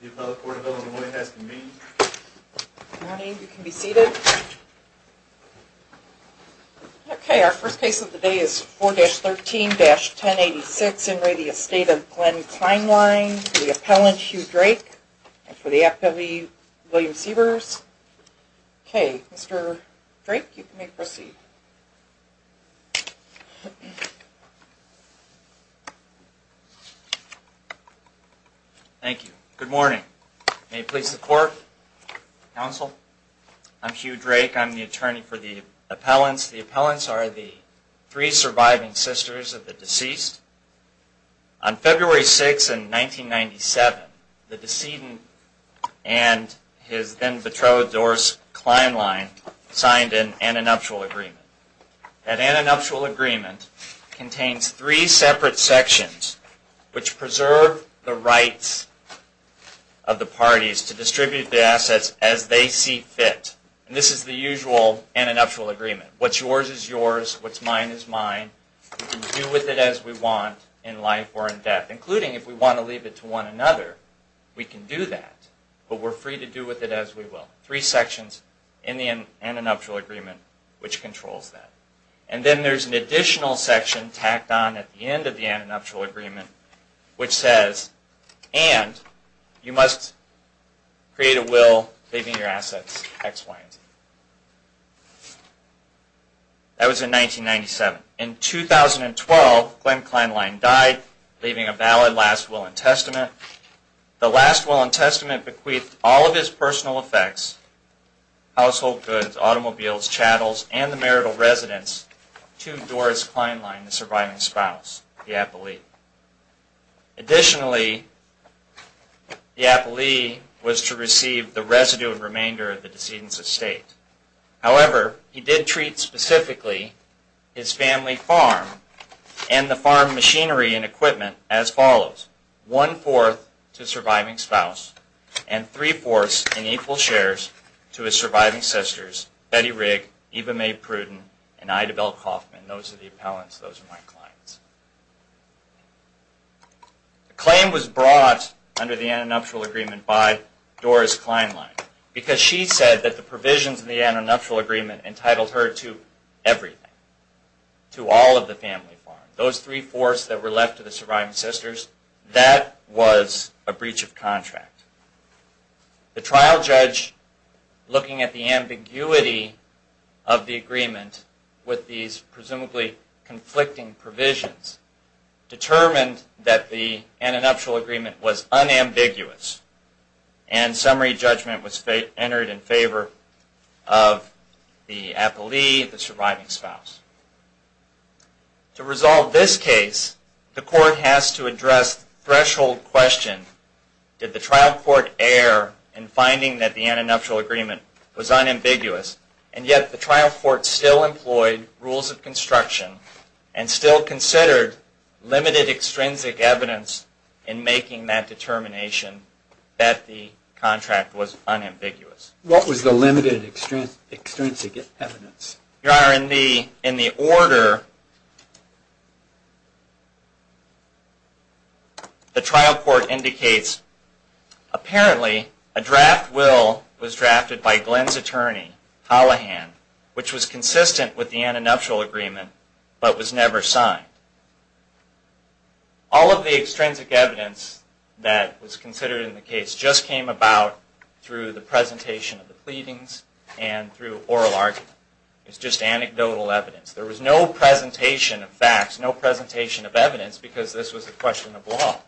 The appellant, Hugh Drake, for the Act of E. William Sievers. Okay, Mr. Drake, you may proceed. Thank you. Thank you. Thank you. Good morning. May it please the court, counsel. I'm Hugh Drake. I'm the attorney for the appellants. The appellants are the three surviving sisters of the deceased. On February 6, 1997, the decedent and his then betrothed, Doris Kleinlein, signed an annuptial agreement. That annuptial agreement contains three separate sections which preserve the rights of the parties to distribute the assets as they see fit. This is the usual annuptial agreement. What's yours is yours. What's mine is mine. We can do with it as we want in life or in death, including if we want to leave it to one another. We can do that, but we're free to do with it as we will. Three sections in the annuptial agreement which controls that. And then there's an additional section tacked on at the end of the annuptial agreement which says, and you must create a will leaving your assets ex-pliant. That was in 1997. In 2012, Glenn Kleinlein died, leaving a valid last will and testament. The last will and testament bequeathed all of his personal effects, household goods, automobiles, chattels, and the marital residence to Doris Kleinlein, the surviving spouse, the appellee. Additionally, the appellee was to receive the residue and remainder of the decedent's estate. However, he did treat specifically his family farm and the farm machinery and equipment as follows. One-fourth to the surviving spouse and three-fourths in equal shares to his surviving sisters, Betty Rigg, Eva Mae Pruden, and Ida Bell Coffman. Those are the appellants. Those are my clients. The claim was brought under the annuptial agreement by Doris Kleinlein because she said that the provisions in the annuptial agreement entitled her to everything, to all of the family farm. Those three-fourths that were left to the surviving sisters, that was a breach of contract. The trial judge, looking at the ambiguity of the agreement with these presumably conflicting provisions, determined that the annuptial agreement was unambiguous and summary judgment was entered in favor of the appellee, the surviving spouse. To resolve this case, the court has to address the threshold question, did the trial court err in finding that the annuptial agreement was unambiguous and yet the trial court still employed rules of construction and still considered limited extrinsic evidence in making that determination that the contract was unambiguous? What was the limited extrinsic evidence? Your Honor, in the order, the trial court indicates apparently a draft will was drafted by Glenn's attorney, Hallahan, which was consistent with the annuptial agreement but was never signed. All of the extrinsic evidence that was considered in the case just came about through the presentation of the pleadings and through oral argument. It was just anecdotal evidence. There was no presentation of facts, no presentation of evidence, because this was a question of law.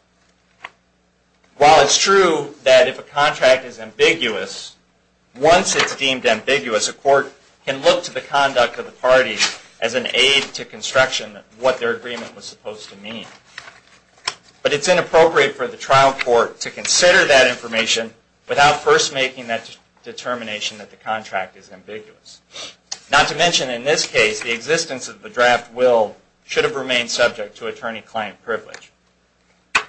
While it's true that if a contract is ambiguous, once it's deemed ambiguous, a court can look to the conduct of the parties as an aid to construction of what their agreement was supposed to mean. But it's inappropriate for the trial court to consider that information without first making that determination that the contract is ambiguous. Not to mention, in this case, the existence of the draft will should have remained subject to attorney-client privilege.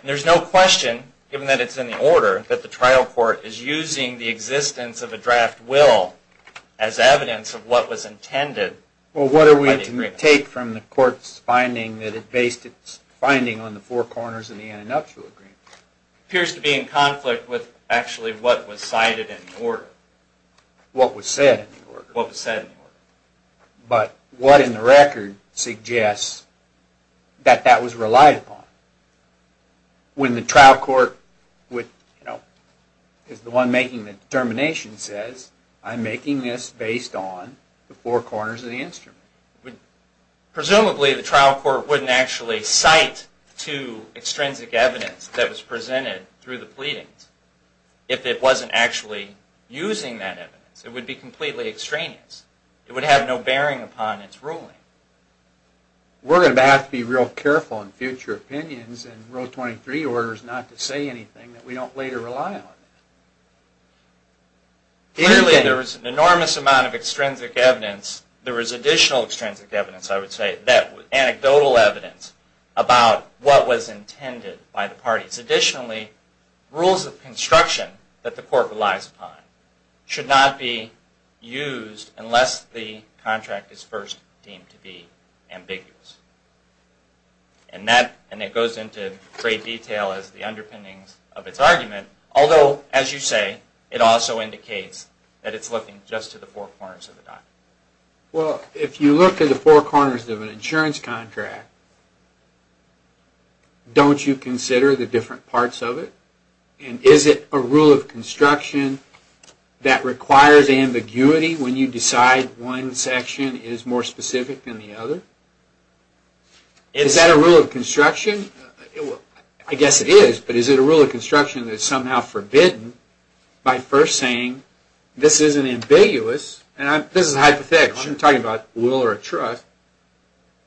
There's no question, given that it's in the order, that the trial court is using the existence of a draft will as evidence of what was intended by the agreement. Here's a tape from the court's finding that it based its finding on the four corners of the annuptial agreement. It appears to be in conflict with actually what was cited in the order. What was said in the order. But what in the record suggests that that was relied upon. When the trial court, as the one making the determination, says, I'm making this based on the four corners of the instrument. Presumably the trial court wouldn't actually cite the two extrinsic evidence that was presented through the pleadings. If it wasn't actually using that evidence. It would be completely extraneous. It would have no bearing upon its ruling. We're going to have to be real careful in future opinions in Rule 23 orders not to say anything that we don't later rely on. Clearly there was an enormous amount of extrinsic evidence. There was additional extrinsic evidence, I would say. Anecdotal evidence about what was intended by the parties. Additionally, rules of construction that the court relies upon should not be used unless the contract is first deemed to be ambiguous. And that goes into great detail as the underpinnings of its argument. Although, as you say, it also indicates that it's looking just to the four corners of the document. Well, if you look at the four corners of an insurance contract, don't you consider the different parts of it? And is it a rule of construction that requires ambiguity when you decide one section is more specific than the other? Is that a rule of construction? I guess it is, but is it a rule of construction that is somehow forbidden by first saying, this isn't ambiguous, and this is a hypothetical. I'm not talking about a will or a trust.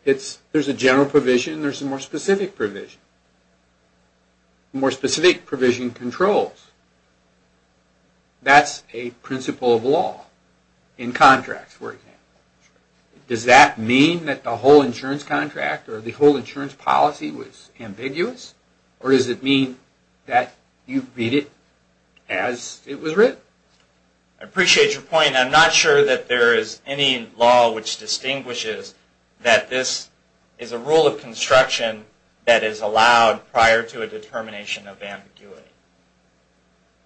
There's a general provision and there's a more specific provision. More specific provision controls. That's a principle of law in contracts, for example. Does that mean that the whole insurance contract or the whole insurance policy was ambiguous? Or does it mean that you read it as it was written? I appreciate your point. I'm not sure that there is any law which distinguishes that this is a rule of construction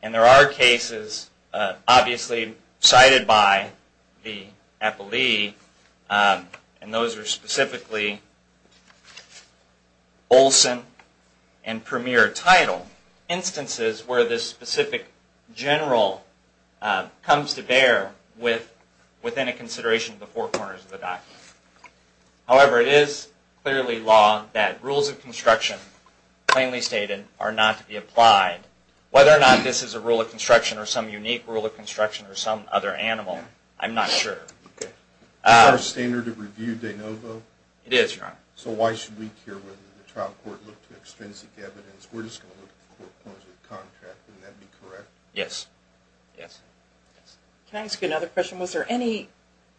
And there are cases, obviously cited by the appellee, and those are specifically Olson and Premier Title instances where this specific general comes to bear within a consideration of the four corners of the document. However, it is clearly law that rules of construction, plainly stated, are not to be applied. Whether or not this is a rule of construction or some unique rule of construction or some other animal, I'm not sure. Is there a standard of review de novo? It is, Your Honor. So why should we care whether the trial court looked to extrinsic evidence? We're just going to look at the four corners of the contract. Wouldn't that be correct? Can I ask you another question? Was there any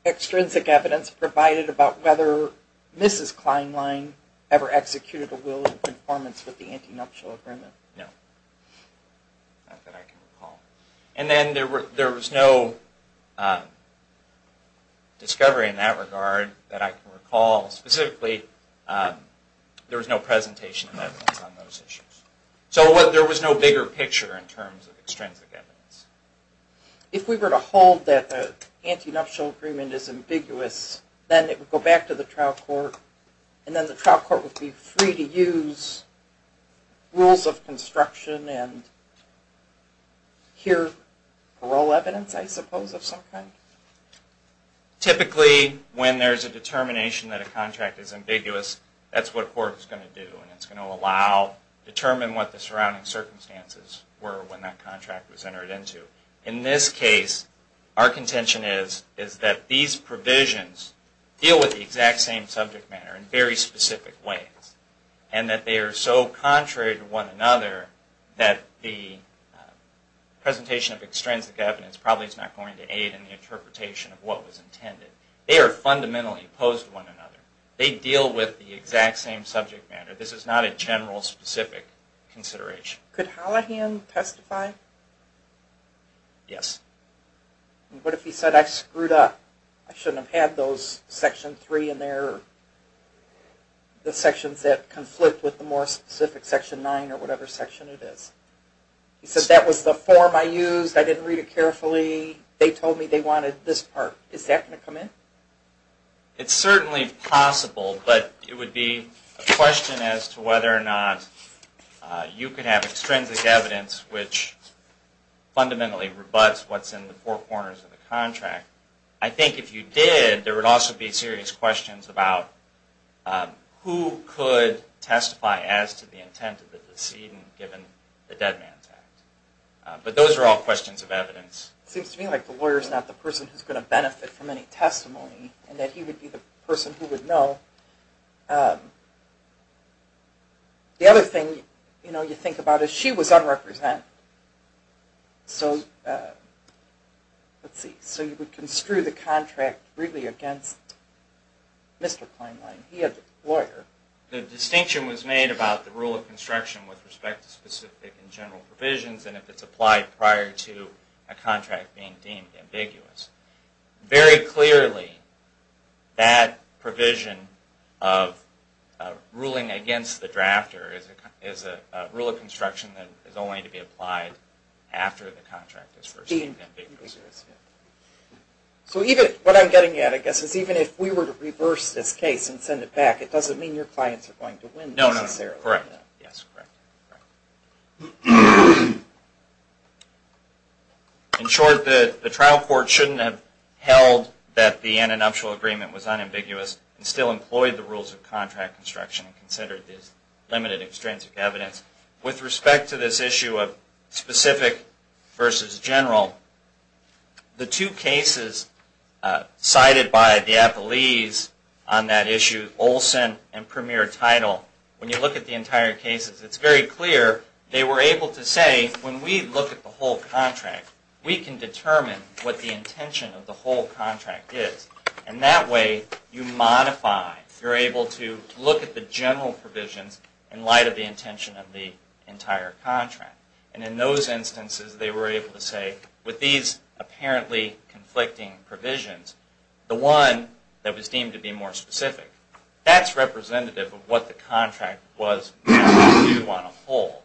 extrinsic evidence provided about whether Mrs. Kleinlein ever executed a will in conformance with the Anti-Nuptial Agreement? No. And then there was no discovery in that regard that I can recall. Specifically, there was no presentation of evidence on those issues. So there was no bigger picture in terms of extrinsic evidence. If we were to hold that the Anti-Nuptial Agreement is ambiguous, then it would go back to the trial court, and then the trial court would be free to use rules of construction and hear parole evidence, I suppose, of some kind? Typically, when there's a determination that a contract is ambiguous, that's what a court is going to do, and it's going to allow, determine what the surrounding circumstances were when that contract was entered into. In this case, our contention is that these provisions deal with the exact same subject matter in very specific ways, and that they are so contrary to one another that the presentation of extrinsic evidence probably is not going to aid in the interpretation of what was intended. They are fundamentally opposed to one another. They deal with the exact same subject matter. This is not a general, specific consideration. Could Hallahan testify? Yes. What if he said, I screwed up? I shouldn't have had those Section 3 in there, or the sections that conflict with the more specific Section 9, or whatever section it is? He said, that was the form I used, I didn't read it carefully, they told me they wanted this part. Is that going to come in? It's certainly possible, but it would be a question as to whether or not you could have extrinsic evidence which fundamentally rebuts what's in the contract. It's a question about who could testify as to the intent of the decedent, given the dead man's act. But those are all questions of evidence. It seems to me like the lawyer is not the person who is going to benefit from any testimony, and that he would be the person who would know. The other thing you think about is, she was unrepresentative. So you would construe the contract really against Mr. Kleinwein. He had the lawyer. The distinction was made about the rule of construction with respect to specific and general provisions, and if it's applied prior to a contract being deemed ambiguous. Very clearly, that provision of ruling against the drafter is a rule of construction that is only to be applied after the contract is first deemed ambiguous. What I'm getting at is, even if we were to reverse this case and send it back, it doesn't mean your clients are going to win. No, correct. In short, the trial court shouldn't have held that the antenuptial agreement was unambiguous and still employed the rules of contract construction and considered this limited extrinsic evidence. With respect to this issue of specific versus general, the two cases cited by the Appellees on that issue, Olson and Premier Teitel, when you look at the entire cases, it's very clear they were able to say, when we look at the whole contract is. And that way, you modify, you're able to look at the general provisions in light of the intention of the entire contract. And in those instances, they were able to say, with these apparently conflicting provisions, the one that was deemed to be more specific, that's representative of what the contract was that you want to hold.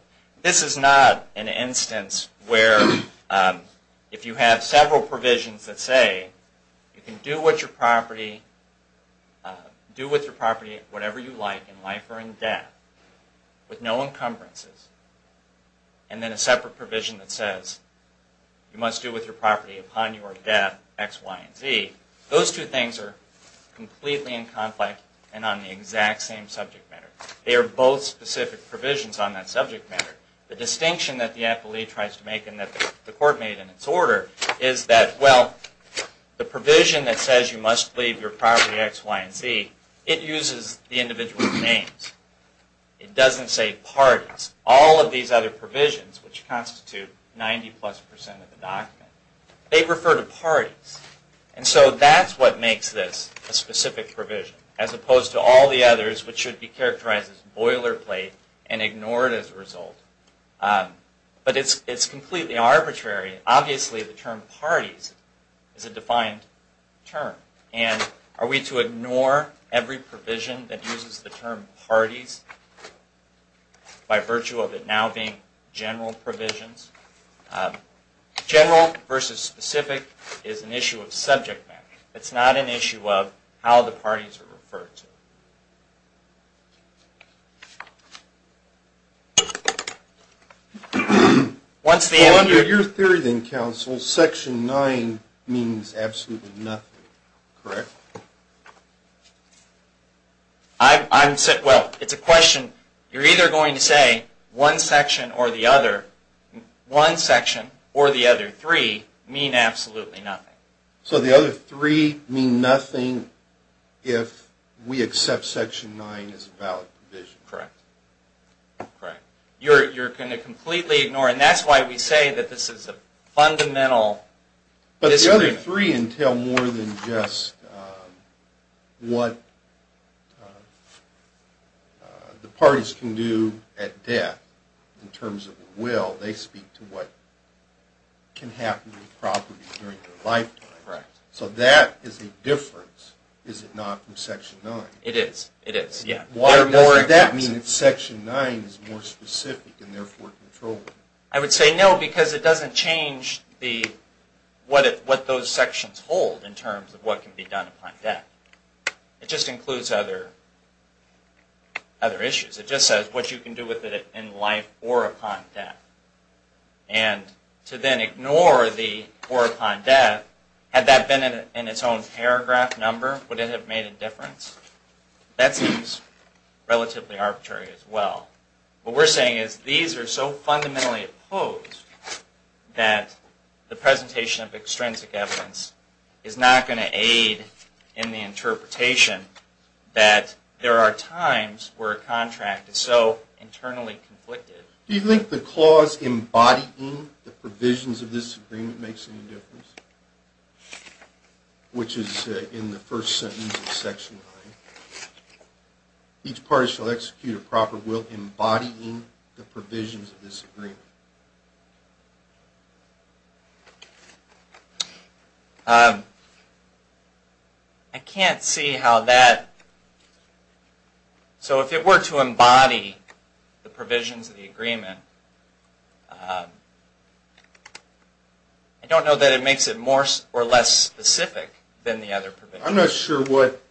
This is not an instance where, if you have several provisions that say, you can do with your property whatever you like in life or in death, with no encumbrances, and then a separate provision that says, you must do with your property upon your death, X, Y, and Z. Those two things are completely in conflict and on the exact same subject matter. They are both specific provisions on that subject matter. The distinction that the Appellee tries to make, and that the Court made in its order, is that, well, the provision that says you must leave your property X, Y, and Z, it uses the individual names. It doesn't say parties. All of these other provisions, which constitute 90 plus percent of the document, they refer to parties. And so that's what makes this a specific provision, as opposed to all the others, which should be characterized as boilerplate and ignored as a result. But it's completely arbitrary. Obviously, the term parties is a defined term. And are we to ignore every provision that uses the term parties by virtue of it now being general provisions? General versus specific is an issue of subject matter. It's not an issue of how the parties are referred to. Well, under your theory then, Counsel, Section 9 means absolutely nothing, correct? Well, it's a question. You're either going to say one section or the other. One section or the other three mean absolutely nothing. So the other three mean nothing if we accept Section 9 is a valid provision? Correct. Correct. You're going to completely ignore it. And that's why we say that this is a fundamental disagreement. But the other three entail more than just what the parties can do at death in terms of a will. They speak to what can happen with property during their lifetime. Correct. So that is a difference, is it not, from Section 9? It is. It is, yeah. Why does that mean that Section 9 is more specific and therefore controlled? I would say no, because it doesn't change what those sections hold in terms of what can be done upon death. It just includes other issues. It just says what you can do with it in life or upon death. And to then ignore the or upon death, had that been in its own paragraph number, would it have made a difference? That seems relatively arbitrary as well. What we're saying is these are so fundamentally opposed that the presentation of extrinsic evidence is not going to aid in the interpretation that there are times where a contract is so internally conflicted. Do you think the clause embodying the provisions of this agreement makes any difference? Which is in the first sentence of Section 9. Each party shall execute a proper will embodying the provisions of this agreement. I can't see how that... So if it were to embody the provisions of the agreement, I don't know that it makes it more or less specific than the other provisions. I'm not sure what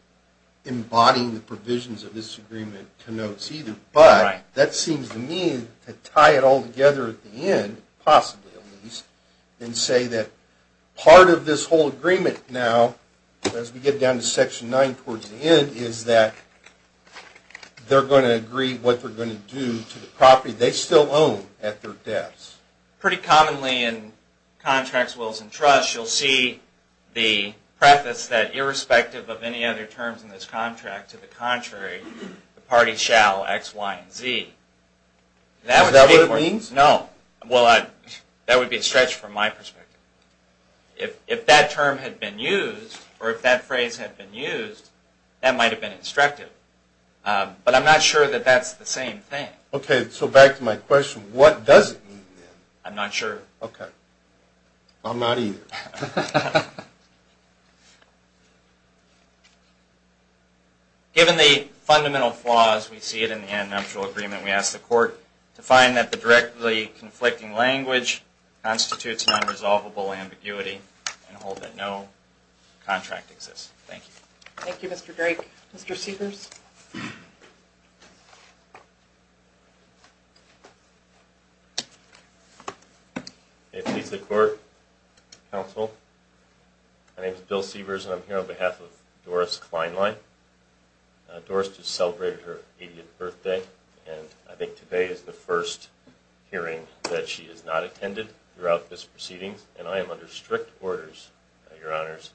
embodying the provisions of this agreement connotes either, but that seems to me to tie it all together at the end, possibly at least, and say that part of this whole agreement now, as we get down to Section 9 towards the end, is that they're going to agree what they're going to do to the property they still own at their deaths. Pretty commonly in contracts, wills, and trusts, you'll see the preface that irrespective of any other terms in this contract, to the contrary, the party shall x, y, and z. Is that what it means? No. Well, that would be a stretch from my perspective. If that term had been used, or if that phrase had been used, that might have been instructive. But I'm not sure that that's the same thing. Okay, so back to my question. What does it mean then? I'm not sure. Okay. I'm not either. Given the fundamental flaws we see in the Antinomial Agreement, we ask the court to find that the directly conflicting language constitutes an unresolvable ambiguity and hold that no contract exists. Thank you. Thank you, Mr. Drake. Mr. Sievers? If it pleases the court, counsel, my name is Bill Sievers, and I'm here on behalf of Doris Kleinlein. Doris just celebrated her 80th birthday, and I think today is the first hearing that she has not attended throughout this proceedings, and I am under strict orders, Your Honors,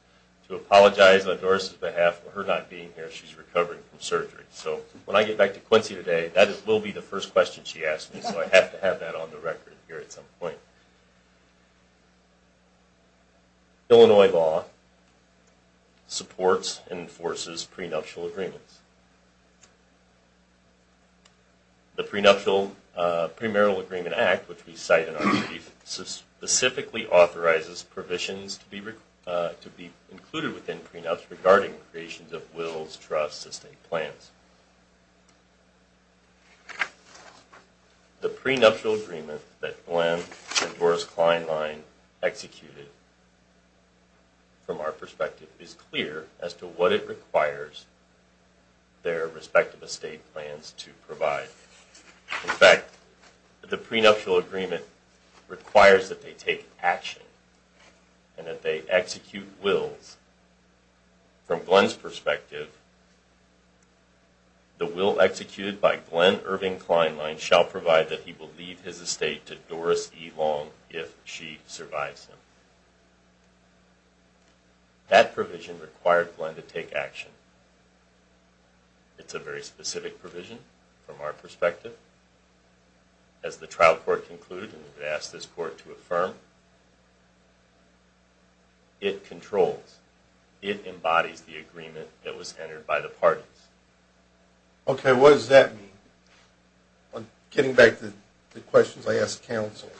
to apologize on Doris' behalf for her not being here. She's recovering from surgery. So when I get back to Quincy today, that will be the first question she asks me, so I have to have that on the record here at some point. Illinois law supports and enforces prenuptial agreements. The Premarital Agreement Act, which we cite in our brief, specifically authorizes provisions to be included within prenups regarding creations of wills, trusts, and plans. The prenuptial agreement that Glenn and Doris Kleinlein executed from our perspective is clear as to what it requires their respective estate plans to provide. In fact, the prenuptial agreement requires that they take action and that they execute wills. From Glenn's perspective, the will executed by Glenn Irving Kleinlein shall provide that he will leave his estate to Doris E. Long if she survives him. That provision required Glenn to take action. It's a very specific provision from our perspective. As the trial court concluded, and we've asked this court to affirm, it controls, it embodies the agreement that was entered by the parties. Okay, what does that mean? Getting back to the questions I asked counsel,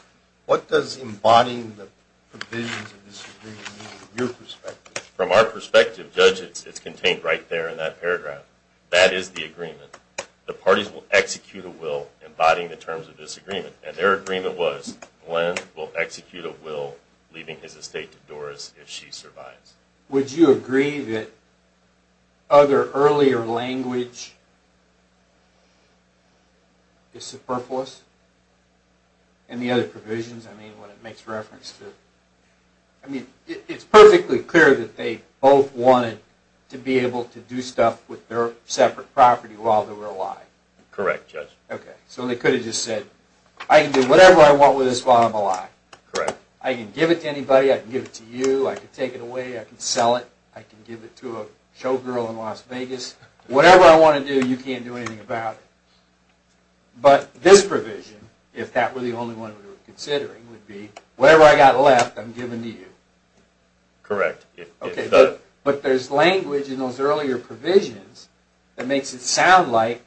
what does embodying the provisions of this agreement mean from your perspective? From our perspective, Judge, it's contained right there in that paragraph. That is the agreement. The parties will execute a will embodying the terms of this agreement. And their agreement was Glenn will execute a will leaving his estate to Doris if she survives. Would you agree that other earlier language is superfluous? And the other provisions, I mean, when it makes reference to, I mean, it's perfectly clear that they both wanted to be able to do stuff with their separate property while they were alive. Correct, Judge. Okay, so they could have just said, I can do whatever I want with this while I'm alive. Correct. I can give it to anybody. I can give it to you. I can take it away. I can sell it. I can give it to a showgirl in Las Vegas. Whatever I want to do, you can't do anything about it. But this provision, if that were the only one we were considering, would be, whatever I got left, I'm giving to you. Correct. But there's language in those earlier provisions that makes it sound like,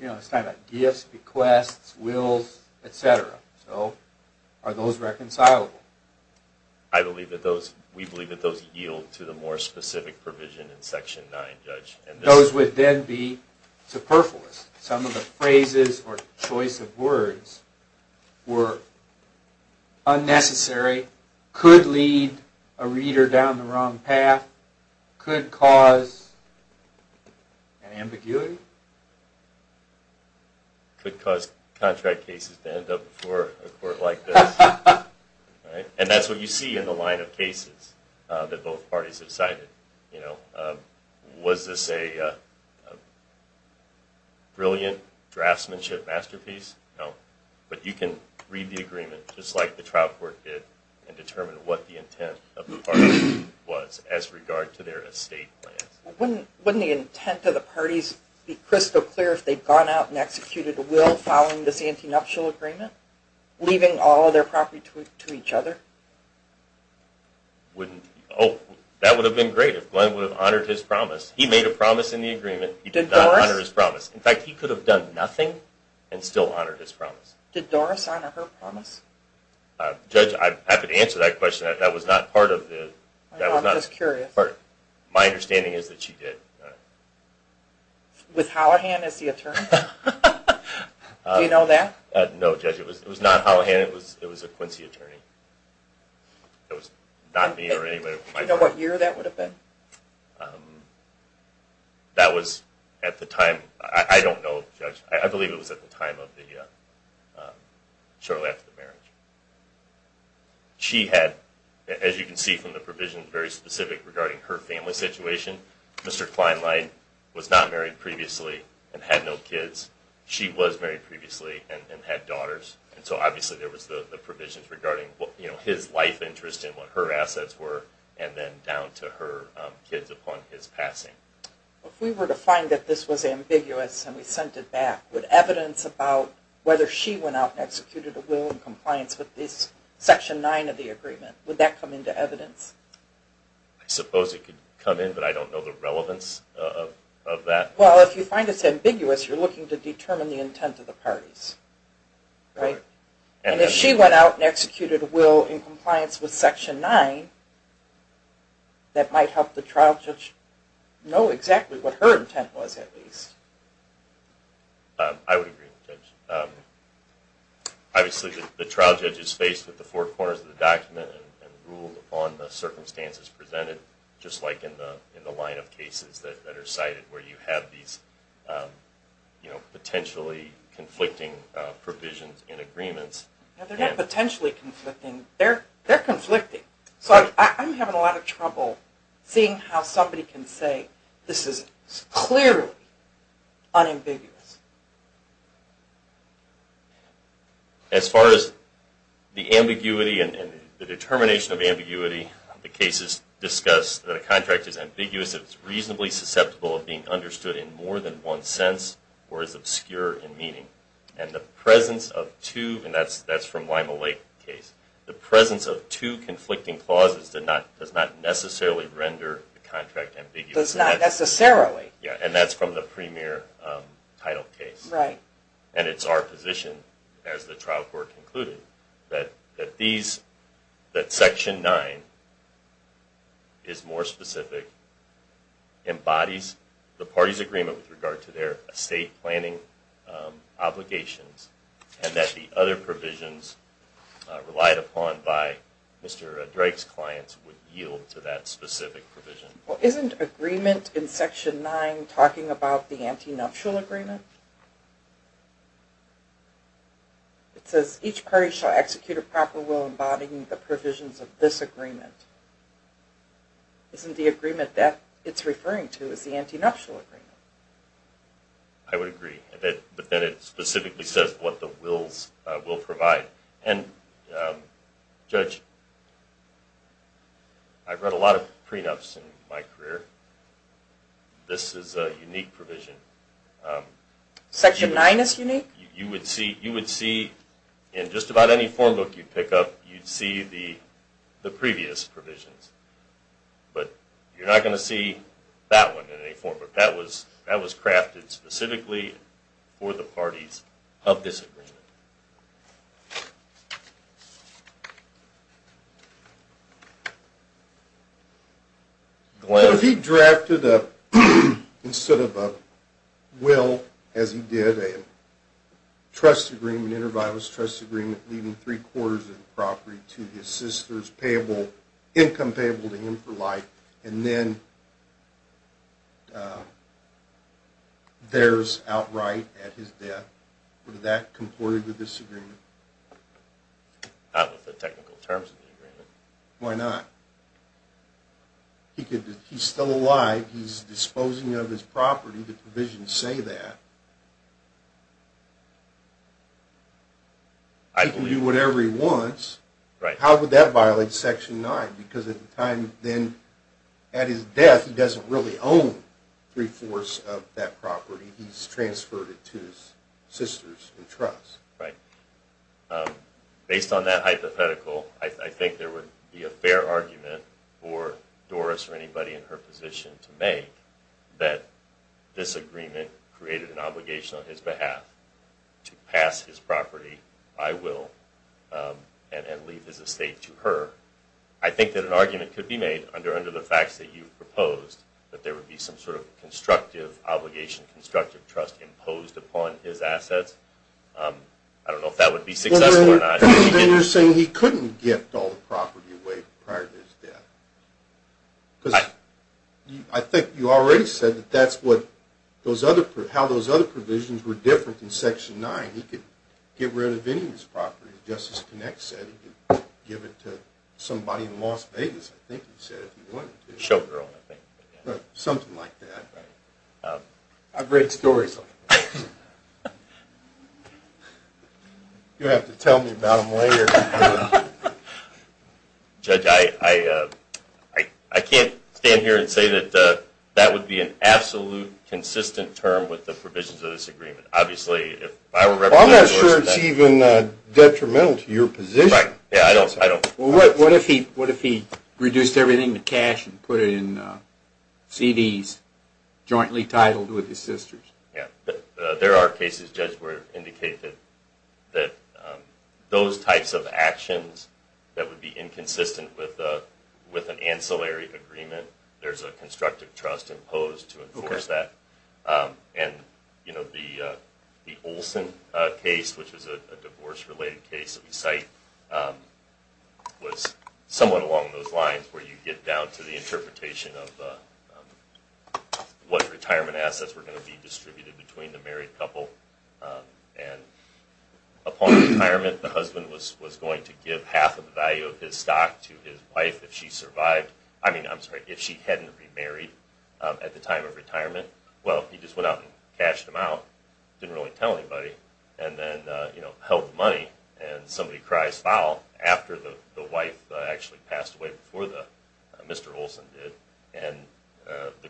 you know, it's talking about gifts, requests, wills, etc. So are those reconcilable? I believe that those, we believe that those yield to the more specific provision in Section 9, Judge. Those would then be superfluous. Some of the phrases or choice of words were unnecessary, could lead a reader down the wrong path, could cause an ambiguity. Could cause contract cases to end up before a court like this. And that's what you see in the line of cases that both brilliant draftsmanship masterpiece. No. But you can read the agreement just like the trial court did and determine what the intent of the parties was as regard to their estate plans. Wouldn't the intent of the parties be crystal clear if they'd gone out and executed a will following this antinuptial agreement? Leaving all of their property to each other? Oh, that would have been great if Glenn would have honored his promise. He made a promise in the agreement. He did not honor his promise. In fact, he could have done nothing and still honored his promise. Did Doris honor her promise? Judge, I'd have to answer that question. That was not part of the... I'm just curious. My understanding is that Do you know that? No, Judge. It was not Hallahan. It was a Quincy attorney. It was not me or anybody. Do you know what year that would have been? That was at the time, I don't know Judge. I believe it was at the time of the, shortly after the marriage. She had, as you can see from the provisions, very specific regarding her family situation. Mr. Kleinlein was not married previously and had no kids. She was married previously and had daughters. So obviously there was the provisions regarding his life interest and what her assets were and then down to her kids upon his passing. If we were to find that this was ambiguous and we sent it back, would evidence about whether she went out and executed a will in compliance with this come into evidence? I suppose it could come in, but I don't know the relevance of that. Well, if you find it's ambiguous, you're looking to determine the intent of the parties. And if she went out and executed a will in compliance with Section 9, that might help the trial judge know exactly what her intent was at least. I would agree, Judge. Obviously the trial judge is faced with the four corners of the document and ruled upon the circumstances presented, just like in the line of cases that are cited where you have these potentially conflicting provisions and agreements. They're not potentially conflicting, they're conflicting. So I'm having a lot of trouble seeing how somebody can say this is clearly unambiguous. As far as the ambiguity and the determination of ambiguity, the cases discuss that a contract is ambiguous if it's reasonably susceptible of being understood in more than one sense or is obscure in meaning. And the presence of two, and that's from Lima Lake case, the presence of two necessarily. And that's from the premier title case. And it's our position, as the trial court concluded, that these, that Section 9 is more specific, embodies the parties agreement with regard to their estate planning obligations, and that the other provisions relied upon by Mr. Drake's clients would yield to that specific provision. Isn't agreement in Section 9 talking about the anti-nuptial agreement? It says each party shall execute a proper will embodying the provisions of this agreement. Isn't the agreement that it's referring to is the anti-nuptial agreement? I would agree, but then it specifically says what the wills will provide. And Judge, I've read a lot of prenups in my career. This is a unique provision. Section 9 is unique? You would see, in just about any form book you'd pick up, you'd see the previous provisions. But you're not going to see that one in any form. That was crafted specifically for the parties of this agreement. If he drafted a, instead of a will, as he did, a trust agreement, an inter-vitalist trust agreement, leaving three quarters of the property to his sisters, income payable to him for life, and then theirs outright at his death, would that comport with this agreement? Not with the technical terms of the agreement. Why not? He's still alive. He's disposing of his property. The provisions say that. He can do whatever he wants. How would that violate Section 9? Because at the time, at his death, he doesn't really own three-fourths of that property. He's transferred it to his sisters in trust. Based on that hypothetical, I think there would be a fair argument for Doris or anybody in her position to make that this agreement created an obligation on his behalf to pass his property by will and leave his estate to her. I think that an argument could be made under the facts that you proposed that there would be some sort of constructive obligation, constructive trust imposed upon his assets. I don't know if that would be successful or not. Then you're saying he couldn't gift all the property away prior to his death. Because I think you already said that that's what those other, how those other provisions were different than Section 9. He could get rid of any of his property, just as Connect said. He could give it to somebody in Las Vegas, I think he said, if he wanted to. Showgirl, I think. Something like that. I've read stories like that. You'll have to tell me about them later. Judge, I can't stand here and say that that would be an absolute consistent term with the provisions of this agreement. I'm not sure it's even detrimental to your position. What if he reduced everything to cash and put it in CDs jointly titled with his sisters? There are cases, Judge, where it indicates that those types of actions that would be inconsistent with an ancillary agreement, there's a constructive trust imposed to enforce that. The Olson case, which is a divorce-related case that we cite, was somewhat along those lines where you get down to the interpretation of what retirement assets were going to be distributed between the married couple. And upon retirement, the husband was going to give half of the value of his stock to his wife if she survived. I mean, I'm sorry, if she hadn't remarried at the time of retirement. Well, he just went out and cashed them out, didn't really tell anybody, and then held the money. And somebody cries foul after the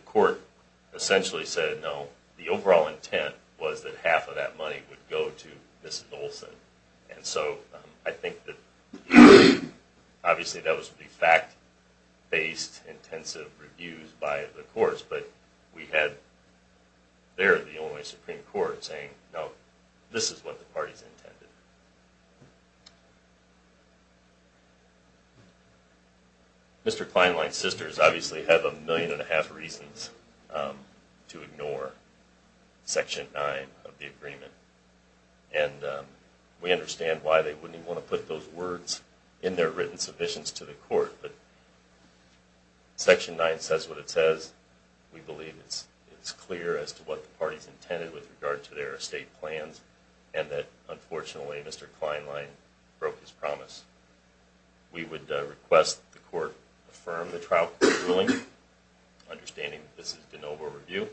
court essentially said, no, the overall intent was that half of that money would go to Mrs. Olson. And so I think that obviously that was the fact-based intensive reviews by the courts, but we had there the Illinois Supreme Court saying, no, this is what the parties intended. Mr. Kleinlein's sisters obviously have a million and a half reasons to ignore Section 9 of the agreement. And we understand why they wouldn't even want to put those words in their written submissions to the court, but Section 9 says what it says. We believe it's clear as to what the parties intended with regard to their estate plans, and that unfortunately Mr. Kleinlein broke his promise. We would request the court affirm the trial court's ruling, understanding that this is de novo review,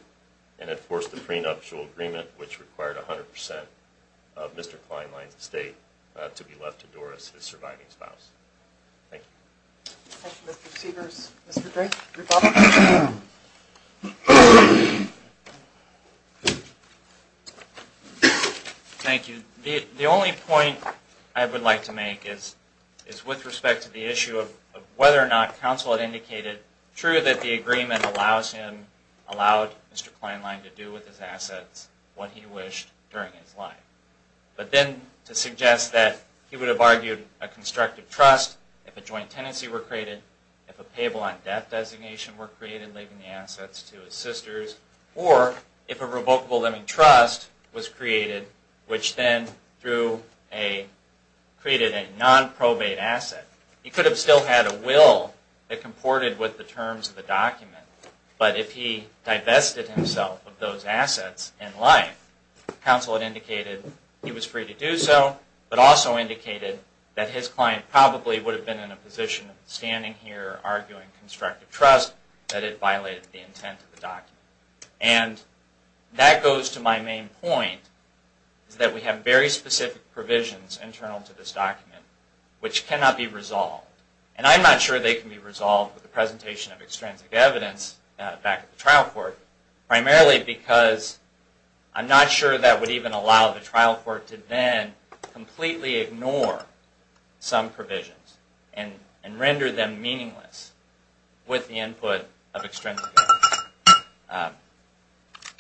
and enforce the prenuptial agreement, which required 100% of Mr. Kleinlein's estate to be left to Doris, his surviving spouse. Thank you. Thank you, Mr. Cedars. Mr. Drake, your thoughts? Thank you. The only point I would like to make is with respect to the issue of whether or not counsel had indicated true that the agreement allowed Mr. Kleinlein to do with his assets what he wished during his life. But then to suggest that he would have argued a constructive trust if a joint tenancy were created, if a payable on death designation were created, leaving the assets to his sisters, or if a revocable living trust was created, which then created a nonprobate asset. He could have still had a will that comported with the terms of the document, but if he indicated he was free to do so, but also indicated that his client probably would have been in a position of standing here arguing constructive trust, that it violated the intent of the document. And that goes to my main point, that we have very specific provisions internal to this document which cannot be resolved. And I'm not sure they can be resolved with the presentation of extrinsic evidence back at the trial court, primarily because I'm not sure that would even allow the trial court to then completely ignore some provisions and render them meaningless with the input of extrinsic evidence.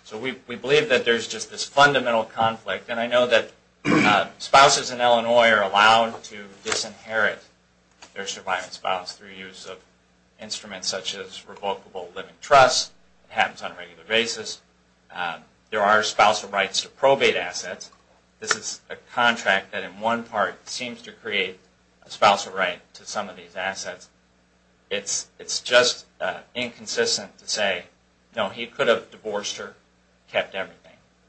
So we believe that there's just this fundamental conflict. And I know that spouses in Illinois are allowed to disinherit their surviving spouse through use of instruments such as revocable living trust. It happens on a regular basis. There are spousal rights to probate assets. This is a contract that in one part seems to create a spousal right to some of these assets. It's just inconsistent to say, no, he could have divorced her, kept everything,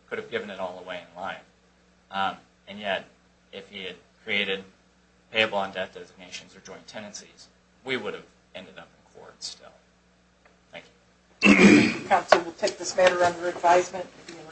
could have given it all away in line. And yet, if he had created payable on debt designations or joint tenancies, we would have ended up in court still. Thank you. Counsel will take this matter under advisement and be in recess.